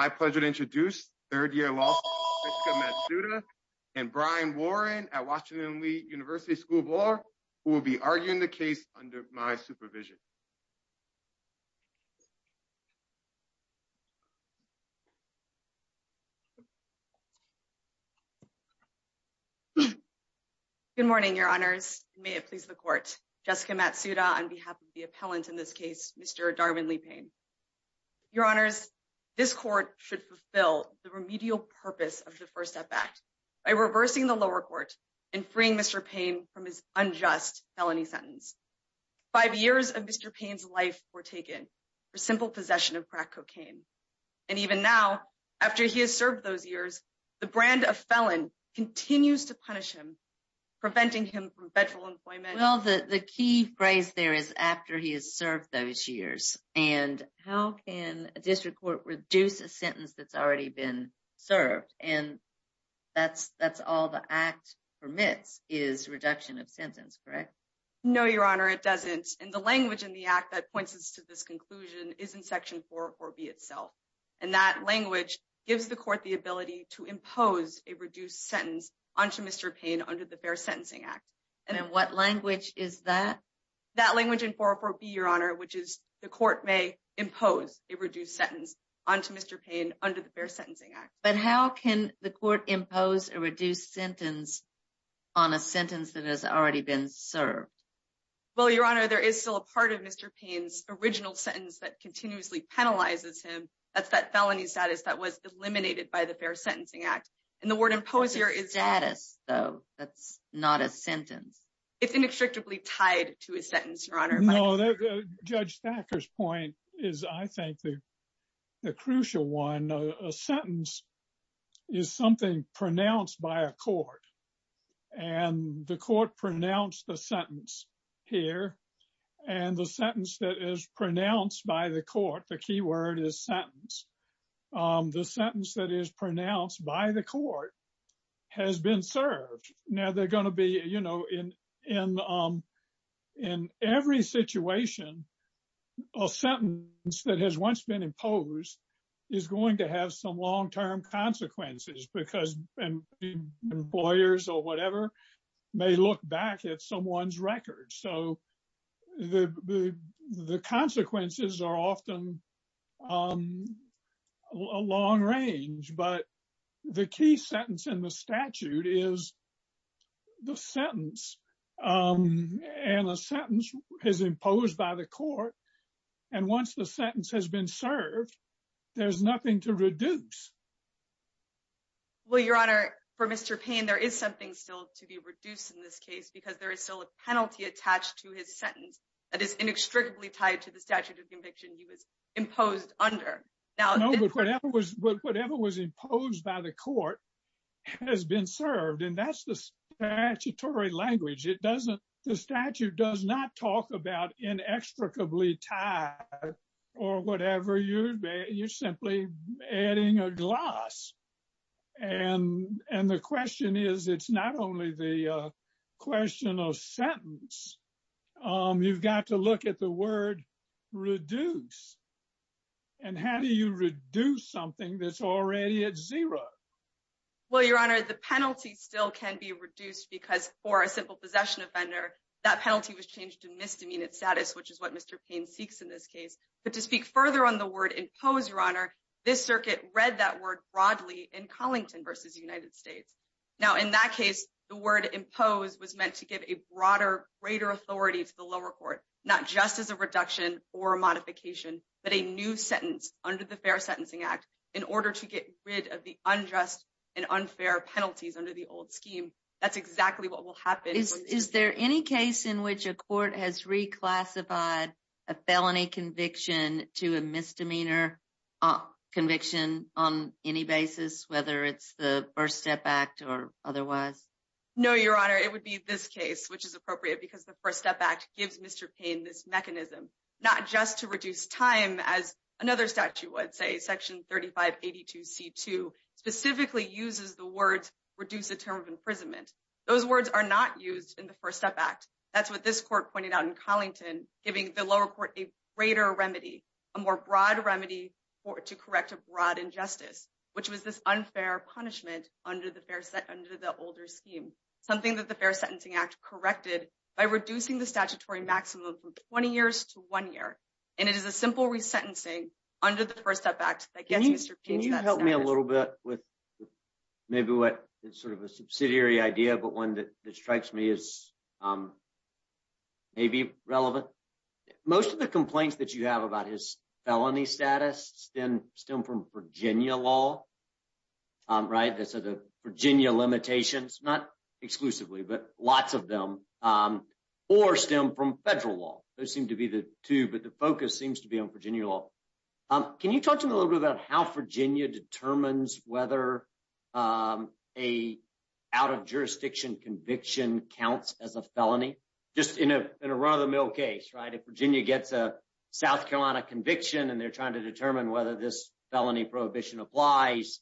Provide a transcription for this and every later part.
My pleasure to introduce third-year law student Jessica Matsuda and Brian Warren at Washington Lee University School of Law, who will be arguing the case under my supervision. Good morning, your honors. May it please the court. Jessica Matsuda on behalf of the appellant in this case, Mr. Darwyn Lee Payne. Your honors, this court should fulfill the remedial purpose of the First Step Act by reversing the lower court and freeing Mr. Payne from his unjust felony sentence. Five years of Mr. Payne's life were taken for simple possession of crack cocaine. And even now, after he has served those years, the brand of felon continues to punish him, preventing him from federal employment. Well, the key phrase there is after he has served those years. And how can a district court reduce a sentence that's already been served? And that's all the act permits is reduction of sentence, correct? Jessica Matsuda No, your honor, it doesn't. And the language in the act that points us to this conclusion is in Section 404B itself. And that language gives the court the ability to impose a reduced sentence onto Mr. Payne under the Fair Sentencing Act. And what language is that? Jessica Matsuda That language in 404B, your honor, which is the court may impose a reduced sentence onto Mr. Payne under the Fair Sentencing Act. But how can the court impose a reduced sentence on a sentence that has already been served? Jessica Matsuda Well, your honor, there is still a part of Mr. Payne's original sentence that continuously penalizes him. That's that felony status that was eliminated by the Fair Sentencing Act. And the word impose here is... It's inextricably tied to his sentence, your honor. William J. Perry No, Judge Thacker's point is, I think, the crucial one. A sentence is something pronounced by a court. And the court pronounced the sentence here. And the sentence that is pronounced by the court, the key word is sentence. The in every situation, a sentence that has once been imposed, is going to have some long term consequences because employers or whatever, may look back at someone's record. So the sentence is imposed by the court. And once the sentence has been served, there's nothing Jessica Matsuda Well, your honor, for Mr. Payne, there is something still to be reduced in this case, because there is still a penalty attached to his sentence that is inextricably tied to the statute of conviction he was imposed under. William J. Perry No, but whatever was imposed by the court has been served. And that's the statutory language. The statute does not talk about inextricably tied or whatever. You're simply adding a gloss. And the question is, it's not only the question of sentence. You've got to look at the word reduce. And how do you reduce something that's already at zero? Jessica Matsuda Well, your honor, the penalty still can be reduced because for a simple possession offender, that penalty was changed to misdemeanor status, which is what Mr. Payne seeks in this case. But to speak further on the word imposed, your honor, this circuit read that word broadly in Collington versus United States. Now, in that case, the word imposed was meant to give a broader greater authority to the lower court, not just as a reduction or modification, but a new sentence under the Fair Sentencing Act in order to get rid of the unjust and unfair penalties under the old scheme. That's exactly what will happen. Is there any case in which a court has reclassified a felony conviction to a misdemeanor conviction on any basis, whether it's the First Step Act or otherwise? Jessica Matsuda No, your honor, it would be this case, which is appropriate because the First Step Act gives Mr. Payne this mechanism, not just to reduce time as another statute would say, Section 3582C2, specifically uses the words reduce the term of imprisonment. Those words are not used in the First Step Act. That's what this court pointed out in Collington, giving the lower court a greater remedy, a more broad remedy to correct a broad injustice, which was this unfair punishment under the older scheme, something that the Fair Sentencing Act corrected by reducing the statutory maximum from 20 years to one year. And it is a simple resentencing under the First Step Act that gets Mr. Payne to that statute. Can you help me a little bit with maybe what sort of a subsidiary idea, but one that strikes me as maybe relevant? Most of the complaints that you have about his felony status stem from Virginia law, right? So the Virginia limitations, not exclusively, but lots of them, or stem from federal law. Those seem to be the two, but the focus seems to be on Virginia law. Can you talk to me a little bit about how Virginia determines whether an out of jurisdiction conviction counts as a felony, just in a run of the mill case, right? If Virginia gets a South Carolina conviction and they're trying to determine whether this felony prohibition applies,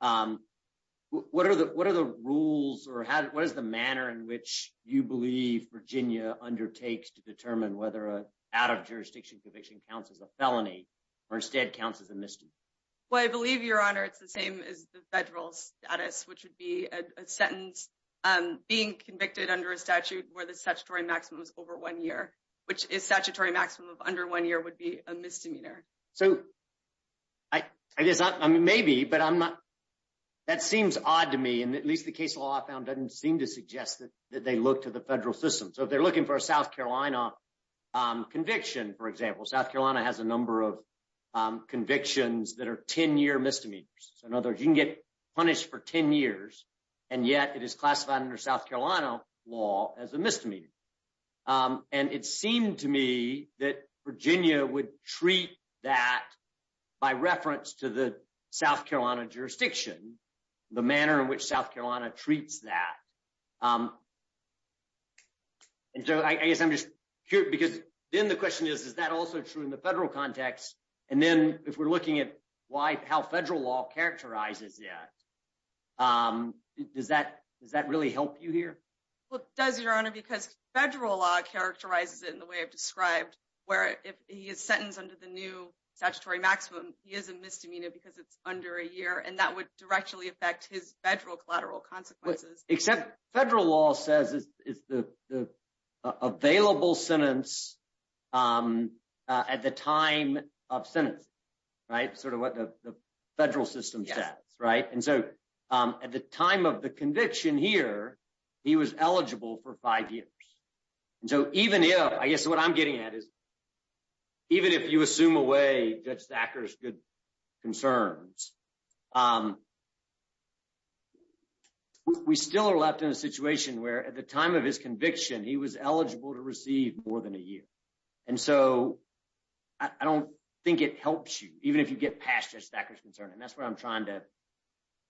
what are the rules, or what is the manner in which you believe Virginia undertakes to determine whether an out of jurisdiction conviction counts as a felony, or instead counts as a misdemeanor? Well, I believe, Your Honor, it's the same as the federal status, which would be a sentence being convicted under a statute where the statutory maximum is over one year, which is statutory maximum of under one year would be a misdemeanor. So I guess, I mean, maybe, but that seems odd to me. And at least the case law I found doesn't seem to suggest that they look to the federal system. So if they're looking for a South Carolina conviction, for example, South Carolina has a number of convictions that are 10-year misdemeanors. So in other words, you can get punished for 10 years, and yet it is classified under South Carolina law as a misdemeanor. And it seemed to me that Virginia would treat that by reference to the South Carolina jurisdiction, the manner in which South Carolina treats that. And so I guess I'm just curious, because then the question is, is that also true in the federal context? And then if we're looking at how federal law characterizes that, does that really help you here? Well, it does, Your Honor, because federal law characterizes it in the way I've described, where if he is sentenced under the new statutory maximum, he is a misdemeanor because it's under a year, and that would directly affect his federal collateral consequences. Except federal law says it's the available sentence at the time of sentence, right? Sort of. At the time of the conviction here, he was eligible for five years. And so even if, I guess what I'm getting at is, even if you assume away Judge Thacker's good concerns, we still are left in a situation where at the time of his conviction, he was eligible to receive more than a year. And so I don't think it helps you, even if you get past Judge Thacker's doubt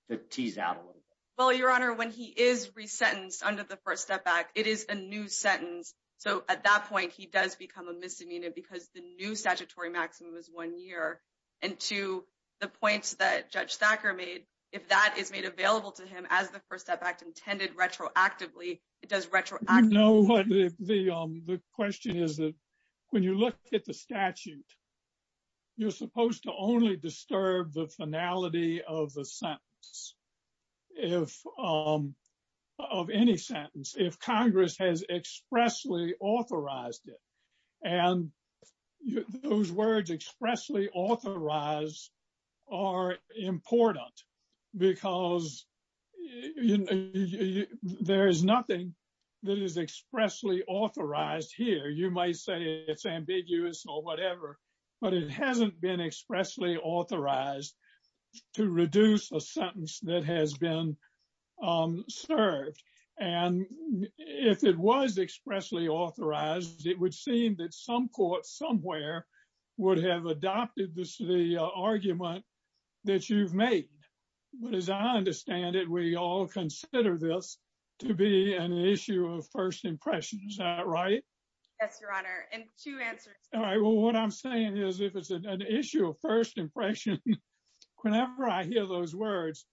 a little bit. Well, Your Honor, when he is re-sentenced under the First Step Act, it is a new sentence. So at that point, he does become a misdemeanor because the new statutory maximum is one year. And to the points that Judge Thacker made, if that is made available to him as the First Step Act intended retroactively, it does retroactively- No, the question is that when you look at the statute, you're supposed to only disturb the finality of the sentence, of any sentence, if Congress has expressly authorized it. And those words expressly authorized are important because there is nothing that is expressly authorized to reduce a sentence that has been served. And if it was expressly authorized, it would seem that some court somewhere would have adopted the argument that you've made. But as I understand it, we all consider this to be an issue of first impression. Is that right? Yes, Your Honor. And two answers. All right. Well, what I'm saying is if it's an issue of first impression, whenever I hear those words,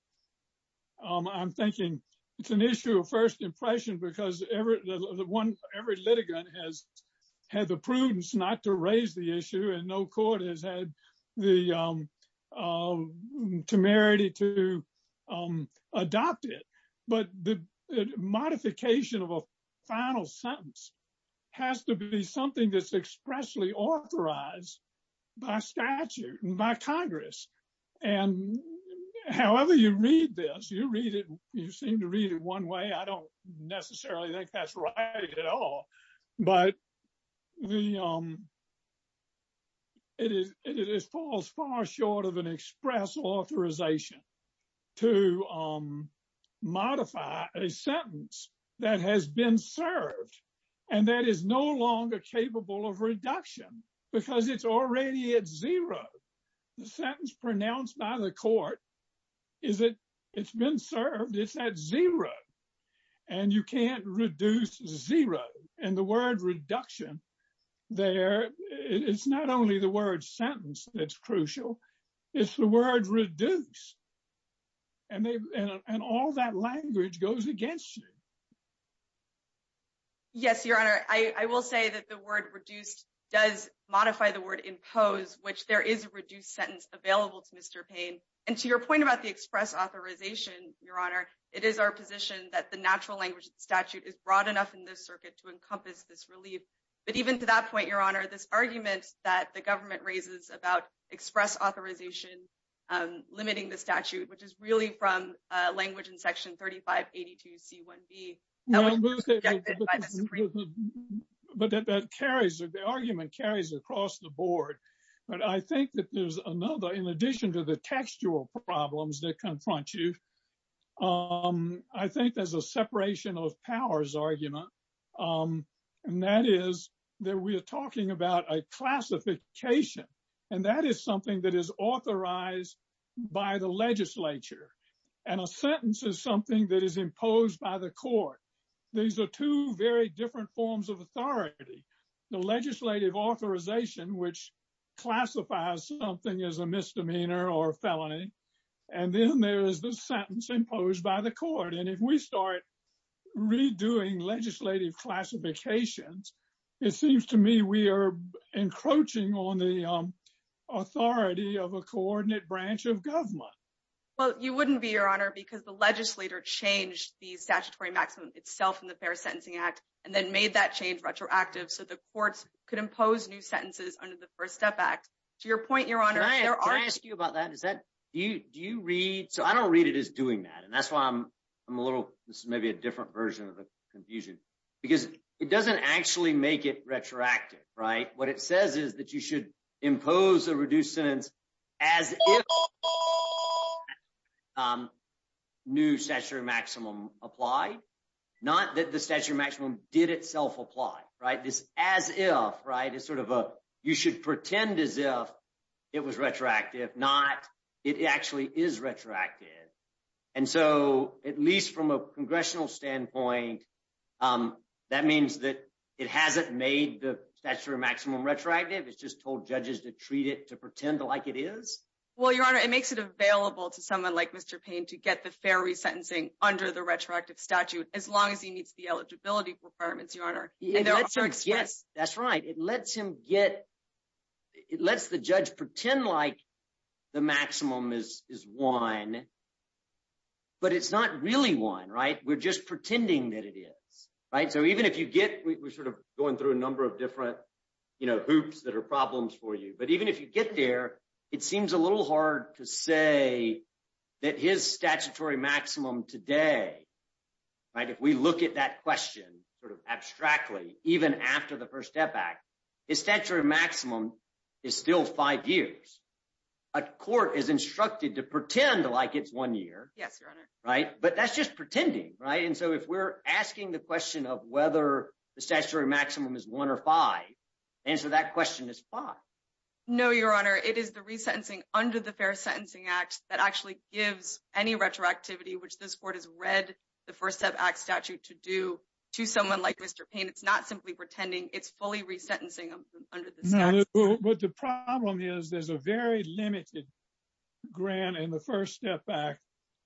I'm thinking it's an issue of first impression because every litigant has had the prudence not to raise the issue and no court has had the temerity to authorize by statute and by Congress. And however you read this, you seem to read it one way, I don't necessarily think that's right at all. But it falls far short of an express authorization to modify a sentence that has been served and that is no longer capable of reduction because it's already at zero. The sentence pronounced by the court is that it's been served, it's at zero and you can't reduce zero. And the word reduction there, it's not only the word. And all that language goes against you. Yes, Your Honor. I will say that the word reduced does modify the word impose, which there is a reduced sentence available to Mr. Payne. And to your point about the express authorization, Your Honor, it is our position that the natural language statute is broad enough in this circuit to encompass this relief. But even to that point, Your Honor, this argument that the government raises about express authorization limiting the statute, which is really from language in section 3582 C1B. But that carries, the argument carries across the board. But I think that there's another, in addition to the textual problems that confront you, I think there's a separation of powers argument. And that is that we are talking about a classification. And that is something that is the legislature. And a sentence is something that is imposed by the court. These are two very different forms of authority. The legislative authorization, which classifies something as a misdemeanor or felony. And then there is the sentence imposed by the court. And if we start redoing legislative classifications, it seems to me we are encroaching on the Well, you wouldn't be, Your Honor, because the legislator changed the statutory maximum itself in the Fair Sentencing Act. And then made that change retroactive so the courts could impose new sentences under the First Step Act. To your point, Your Honor, there are- Can I ask you about that? Is that, do you read, so I don't read it as doing that. And that's why I'm a little, this is maybe a different version of the confusion. Because it doesn't actually make it retroactive, right? What it says is that you should impose a reduced sentence as if- New statutory maximum applied. Not that the statutory maximum did itself apply, right? This as if, right? It's sort of a, you should pretend as if it was retroactive, not it actually is retroactive. And so at least from a congressional standpoint, that means that it hasn't made the statutory maximum retroactive. It's just told judges to treat it to pretend like it is. Well, Your Honor, it makes it available to someone like Mr. Payne to get the fair resentencing under the retroactive statute, as long as he meets the eligibility requirements, Your Honor. And there are- Yes, that's right. It lets him get, it lets the judge pretend like the maximum is one, but it's not really one, right? We're just pretending that it is, right? So even if you get, we're sort of going through a number of different hoops that are problems for you, but even if you get there, it seems a little hard to say that his statutory maximum today, right? If we look at that question sort of abstractly, even after the First Step Act, his statutory maximum is still five years. A court is instructed to pretend like it's one year. Yes, Your Honor. Right? But that's just pretending, right? And so if we're asking the question of whether the statutory maximum is one or five, the answer to that question is five. No, Your Honor. It is the resentencing under the Fair Sentencing Act that actually gives any retroactivity, which this court has read the First Step Act statute to do, to someone like Mr. Payne. It's not simply pretending. It's fully resentencing under this. But the problem is there's a very limited grant in the First Step Act.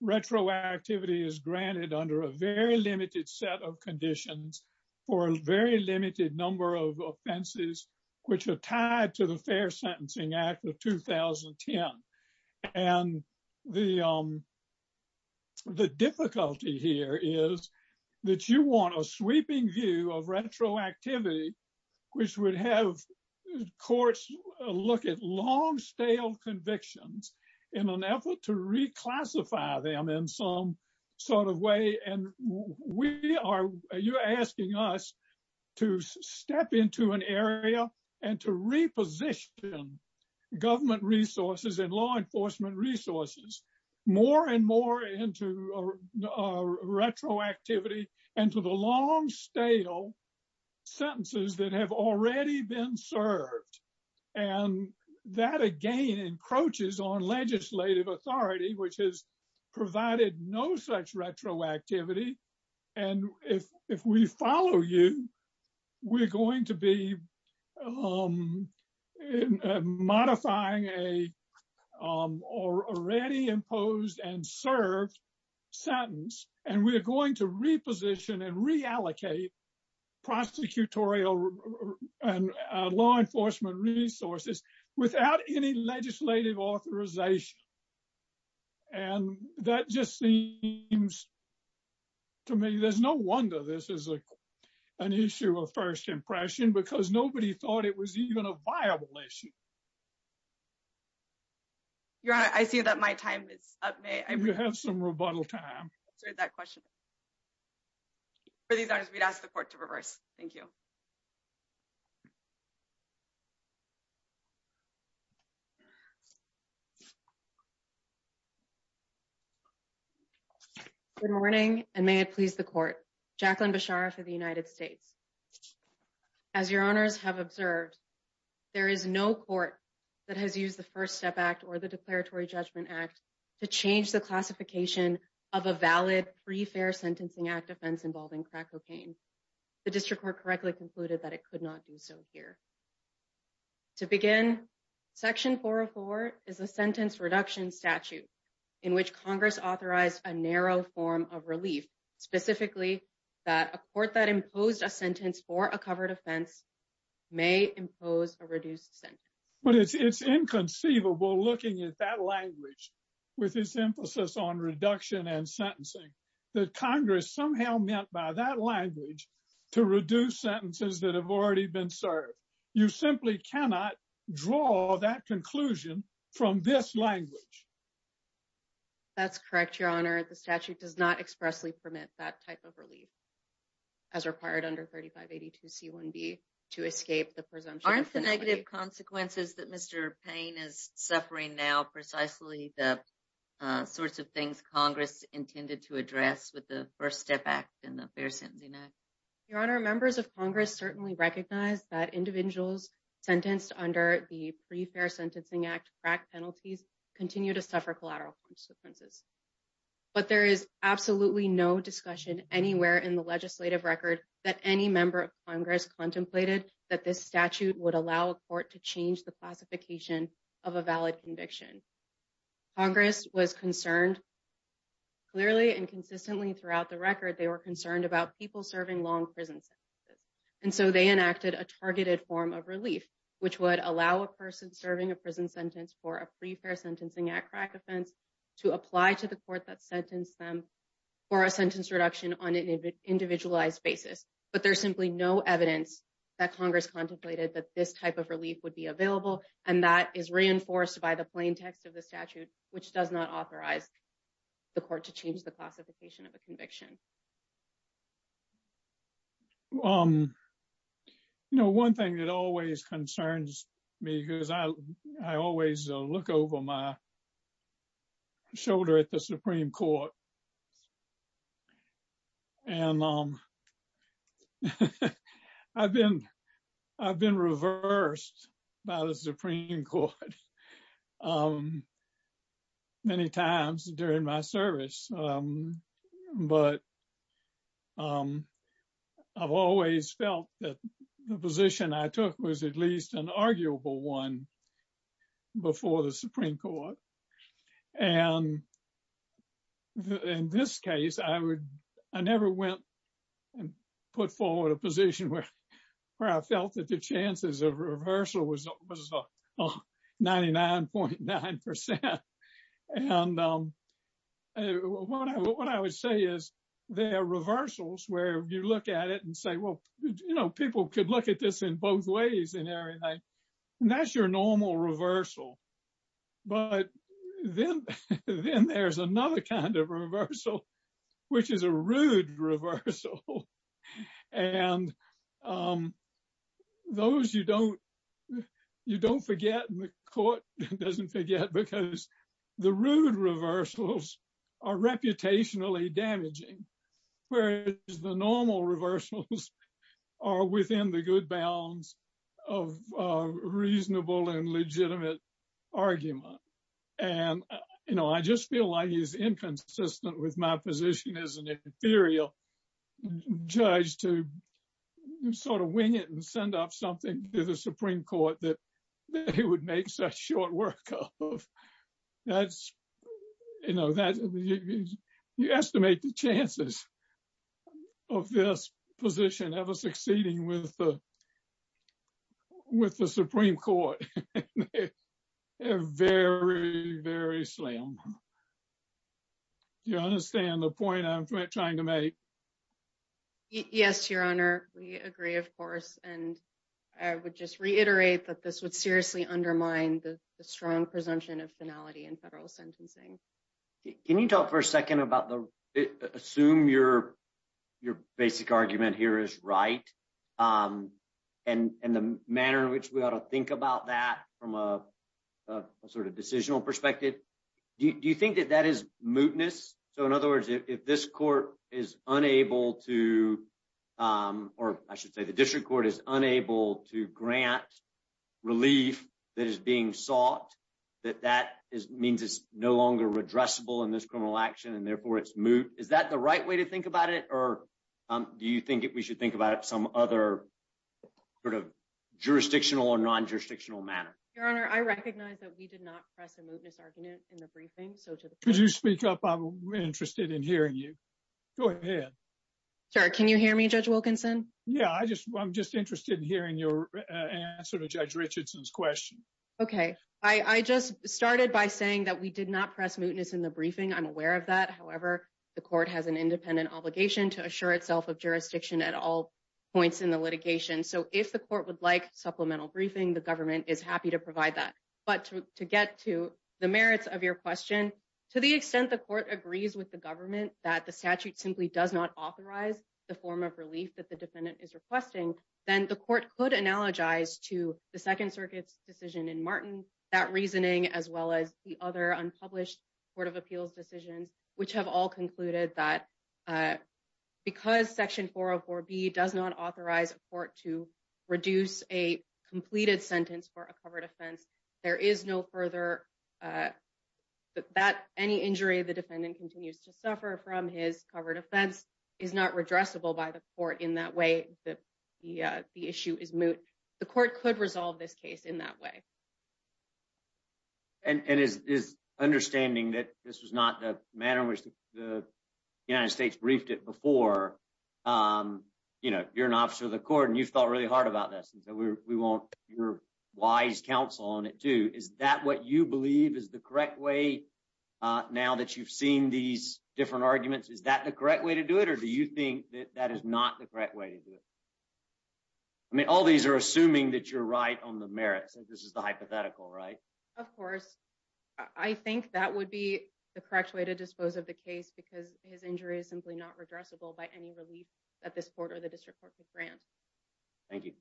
Retroactivity is granted under a very limited set of conditions for a very limited number of offenses, which are tied to the Fair Sentencing Act of 2010. And the difficulty here is that you want a sweeping view of retroactivity, which would have courts look at long stale convictions in an effort to reclassify them in some sort of way. And you're asking us to step into an area and to reposition government resources and law enforcement resources more and more into retroactivity and to the long stale sentences that have already been served. And that, again, encroaches on legislative authority, which has provided no such retroactivity. And if we follow you, we're going to be modifying an already imposed and served sentence. And we are going to reposition and reallocate prosecutorial and law enforcement resources without any legislative authorization. And that just seems to me there's no wonder this is an issue of first impression because nobody thought it was even a viable issue. Your Honor, I see that my time is up. May I... You have some rebuttal time. ...answer that question. For these honors, we'd ask the court to reverse. Thank you. Good morning, and may it please the court. Jacqueline Bechara for the United States. As your honors have observed, there is no court that has used the First Step Act or the Declaratory Judgment Act to change the classification of a valid pre-fair sentencing act offense involving crack cocaine. The district court correctly concluded that it could not do so here. To begin, Section 404 is a sentence reduction statute in which Congress authorized a narrow form of relief, specifically that a court that imposed a sentence for a covered offense may impose a reduced sentence. But it's inconceivable looking at that language with its emphasis on reduction and sentencing that Congress somehow meant by that language to reduce sentences that have already been served. You simply cannot draw that conclusion from this language. That's correct, your honor. The statute does not expressly permit that type of relief as required under 3582C1B to escape the presumption... Aren't the negative consequences that Mr. Payne is suffering now precisely the sorts of things Congress intended to address with the First Step Act and the Fair Sentencing Act? Your honor, members of Congress certainly recognize that individuals sentenced under the Pre-Fair Sentencing Act crack penalties continue to suffer collateral consequences. But there is absolutely no discussion anywhere in the legislative record that any member of Congress contemplated that this statute would allow a court to change the classification of a valid conviction. Congress was concerned clearly and consistently throughout the record, they were concerned about people serving long prison sentences. And so they enacted a targeted form of relief, which would allow a person serving a prison sentence for a Pre-Fair Sentencing Act crack offense to apply to the court that sentenced them for a sentence reduction on an individualized basis. But there's simply no evidence that Congress contemplated that this type of relief would be available. And that is reinforced by the plain text of the statute, which does not authorize the court to change the classification of a conviction. One thing that always concerns me because I always look over my shoulder at the Supreme Court. And I've been reversed by the Supreme Court many times during my service. But I've always felt that the position I took was at least an arguable one before the Supreme Court. And in this case, I never went and put forward a position where I felt that the chances of reversal was 99.9%. And what I would say is there are reversals where you look at it and say, well, you know, people could look at this in both ways and everything. And that's your normal reversal. But then there's another kind of reversal, which is a rude reversal. And those you don't forget and the court doesn't forget because the rude reversals are reputationally damaging, whereas the normal reversals are within the good bounds of reasonable and legitimate argument. And, you know, I just feel like he's inconsistent with my position as an inferior judge to sort of wing it and send up something to the Supreme Court that he would make such short work of. That's, you know, you estimate the chances of this position ever succeeding with the Supreme Court. They're very, very slim. Do you understand the point I'm trying to make? Yes, Your Honor. We agree, of course. And I would just reiterate that this would seriously undermine the strong presumption of finality in federal sentencing. Can you talk for a second about the... Assume your basic argument here is right. And the manner in which we ought to think about that from a sort of decisional perspective, do you think that that is mootness? So in other words, if this court is unable to... Or I should say the district court is unable to grant relief that is being sought, that that means it's no longer redressable in this criminal action and therefore it's moot. Is that the right way to think about it? Or do you think that we should think about it some other sort of jurisdictional or non-jurisdictional manner? Your Honor, I recognize that we did not press a mootness argument in the briefing. So to the court... Could you speak up? I'm interested in hearing you. Go ahead. Sure. Can you hear me, Judge Wilkinson? Yeah. I'm just interested in hearing your answer to Judge Richardson's question. Okay. I just started by saying that we did not press mootness in the briefing. I'm aware of that. However, the court has an independent obligation to assure itself of jurisdiction at all points in the litigation. So if the court would like supplemental briefing, the government is happy to provide that. But to get to the merits of your question, to the extent the court agrees with the government that the statute simply does not authorize the form of relief that the defendant is requesting, then the court could analogize to the Second Circuit's decision in Martin, that reasoning, as well as the other unpublished Court of Appeals decisions, which have all concluded that because Section 404B does not authorize a court to reduce a completed sentence for a covered offense, there is no further... That any injury the defendant continues to suffer from his covered offense is not redressable by the court in that way that the issue is moot. The court could resolve this case in that way. And is understanding that this was not the manner in which the United States briefed it before, you know, you're an officer of the court and you've thought really hard about this. And so, we want your wise counsel on it too. Is that what you believe is the correct way now that you've seen these different arguments? Is that the correct way to do it? Or do you think that is not the correct way to do it? I mean, all these are assuming that you're right on the merits and this is the hypothetical, right? Of course. I think that would be the correct way to dispose of the case because his injury is simply not redressable by any relief that this court or the district court could grant. Thank you.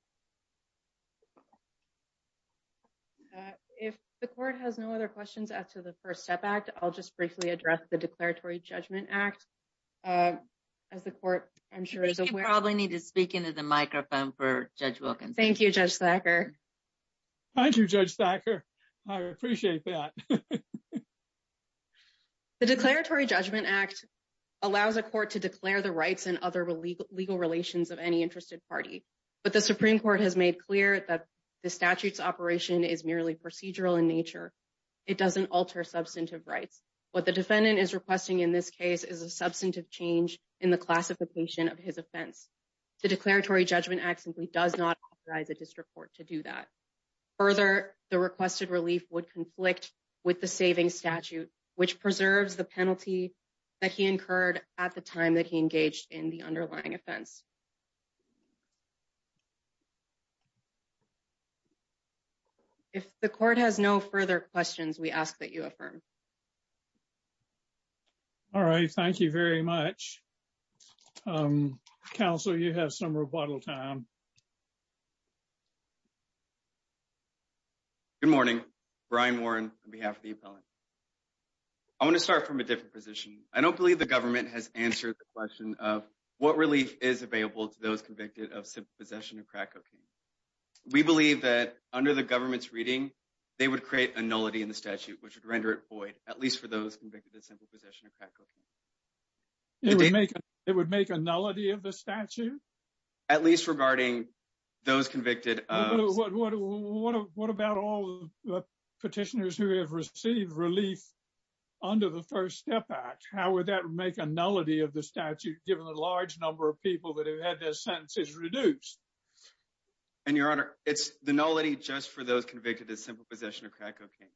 If the court has no other questions as to First Step Act, I'll just briefly address the Declaratory Judgment Act. As the court, I'm sure is aware. We probably need to speak into the microphone for Judge Wilkinson. Thank you, Judge Thacker. Thank you, Judge Thacker. I appreciate that. The Declaratory Judgment Act allows a court to declare the rights and other legal relations of any interested party. But the Supreme Court has made clear that the statute's operation is an alter substantive rights. What the defendant is requesting in this case is a substantive change in the classification of his offense. The Declaratory Judgment Act simply does not authorize a district court to do that. Further, the requested relief would conflict with the saving statute, which preserves the penalty that he incurred at the time that he engaged in the underlying offense. If the court has no further questions, we ask that you affirm. All right. Thank you very much. Counsel, you have some rebuttal time. Good morning. Brian Warren on behalf of the appellant. I want to start from a different position. I don't believe the government has answered the question of what relief is available to those convicted of simple possession of crack cocaine. We believe that under the government's reading, they would create a nullity in the statute, which would render it void, at least for those convicted of simple possession of crack cocaine. It would make a nullity of the statute? At least regarding those convicted of — What about all the petitioners who have received relief under the First Step Act? How would that make a nullity of the statute, given the large number of people that have had their sentences reduced? And, Your Honor, it's the nullity just for those convicted of simple possession of crack cocaine.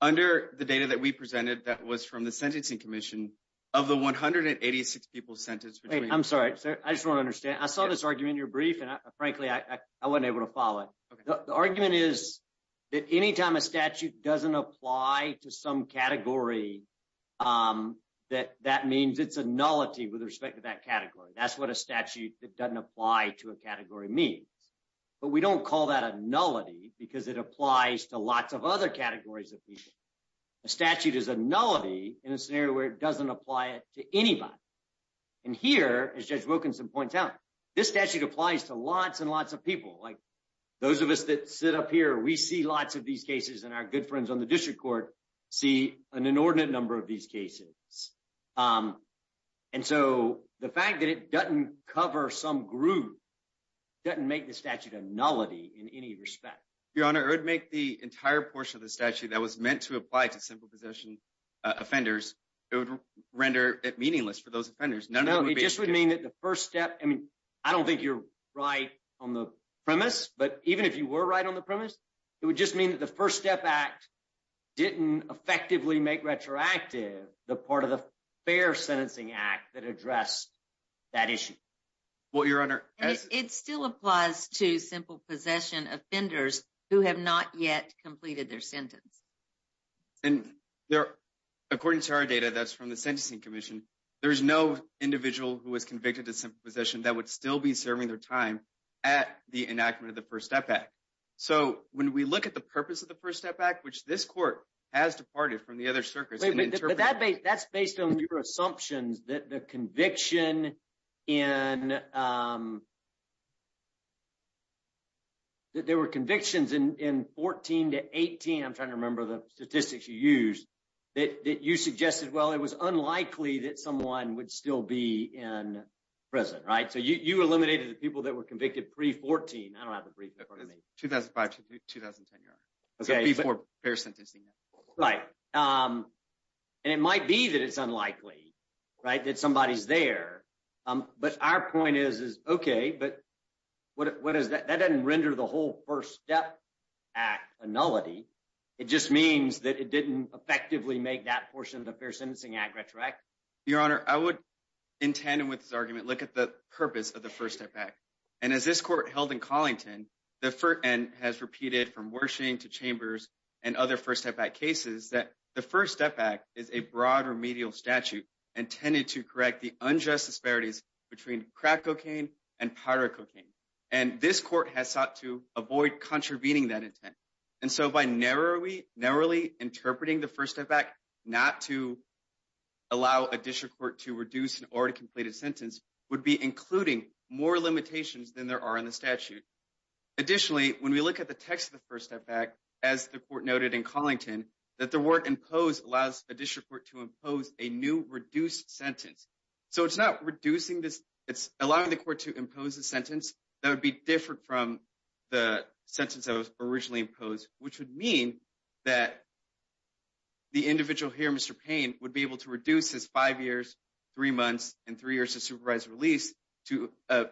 Under the data that we presented that was from the Sentencing Commission, of the 186 people sentenced — I'm sorry. I just want to understand. I saw this argument in your brief, and frankly, I wasn't able to follow it. The argument is that any time a category — that means it's a nullity with respect to that category. That's what a statute that doesn't apply to a category means. But we don't call that a nullity because it applies to lots of other categories of people. A statute is a nullity in a scenario where it doesn't apply it to anybody. And here, as Judge Wilkinson points out, this statute applies to lots and lots of people. Like those of us that sit up here, we see lots of these cases, and our good friends on the district court see an inordinate number of these cases. And so the fact that it doesn't cover some group doesn't make the statute a nullity in any respect. Your Honor, it would make the entire portion of the statute that was meant to apply to simple possession offenders — it would render it meaningless for those offenders. No, it just would mean that the first step — I mean, I don't think you're right on the premise, but even if you were right on the premise, it would just mean that the First Step Act didn't effectively make retroactive the part of the Fair Sentencing Act that addressed that issue. Well, Your Honor — It still applies to simple possession offenders who have not yet completed their sentence. And according to our data that's from the Sentencing Commission, there's no individual who was convicted of simple possession that would still be serving their time at the enactment of the First Step Act. So when we look at the purpose of the First Step Act, which this court has departed from the other circuits and interpreted — Wait, but that's based on your assumptions that the conviction in — that there were convictions in 14 to 18 — I'm trying to remember the statistics you used — that you suggested, well, it was unlikely that someone would still be in prison, right? So you eliminated the people that were convicted pre-14. I don't have the brief in front of me. 2005 to 2010, Your Honor, before fair sentencing. Right. And it might be that it's unlikely, right, that somebody's there. But our point is, okay, but what is that? That doesn't render the whole First Step Act a nullity. It just means that it didn't effectively make that portion of the Fair Sentencing Act retroactive. Your Honor, I would, in tandem with this argument, look at the purpose of the First Step Act. And as this court held in Collington, and has repeated from Wershing to Chambers and other First Step Act cases, that the First Step Act is a broad remedial statute intended to correct the unjust disparities between crack cocaine and powder cocaine. And this court has sought to avoid contravening that intent. And so by narrowly interpreting the First Step Act not to allow a district court to reduce an already completed sentence would be including more limitations than there are in the statute. Additionally, when we look at the text of the First Step Act, as the court noted in Collington, that the work imposed allows a district court to impose a new reduced sentence. So it's not reducing this, it's allowing the court to impose a sentence that would be different from the sentence that was originally imposed, which would mean that the individual here, Mr. Payne, would be able to reduce his five years, three months, and three years of supervised release to a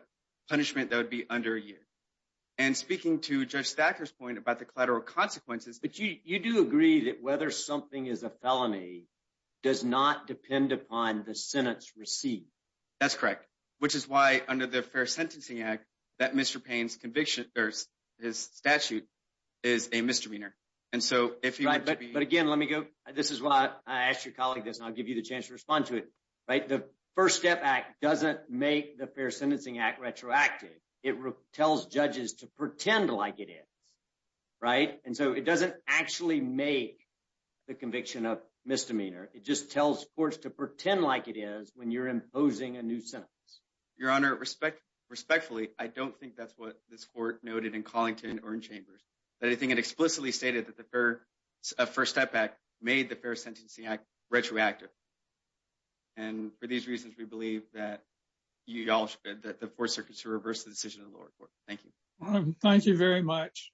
punishment that would be under a year. And speaking to Judge Thacker's point about the collateral consequences... But you do agree that whether something is a felony does not depend upon the sentence received. That's correct. Which is why under the Fair Sentencing Act, that Mr. Payne's conviction, his statute is a misdemeanor. And so if you were to be... But again, let me go... This is why I asked your colleague this, and I'll give you the chance to respond to it. The First Step Act doesn't make the Fair Sentencing Act retroactive. It tells judges to pretend like it is. And so it doesn't actually make the conviction a misdemeanor. It just tells courts to pretend like it is when you're imposing a new sentence. Your Honor, respectfully, I don't think that's what this court noted in Collington or in Chambers. But I think it explicitly stated that the First Step Act made the Fair Sentencing Act retroactive. And for these reasons, we believe that you all should... That the Fourth Circuit should reverse the decision of the lower court. Thank you. Thank you very much.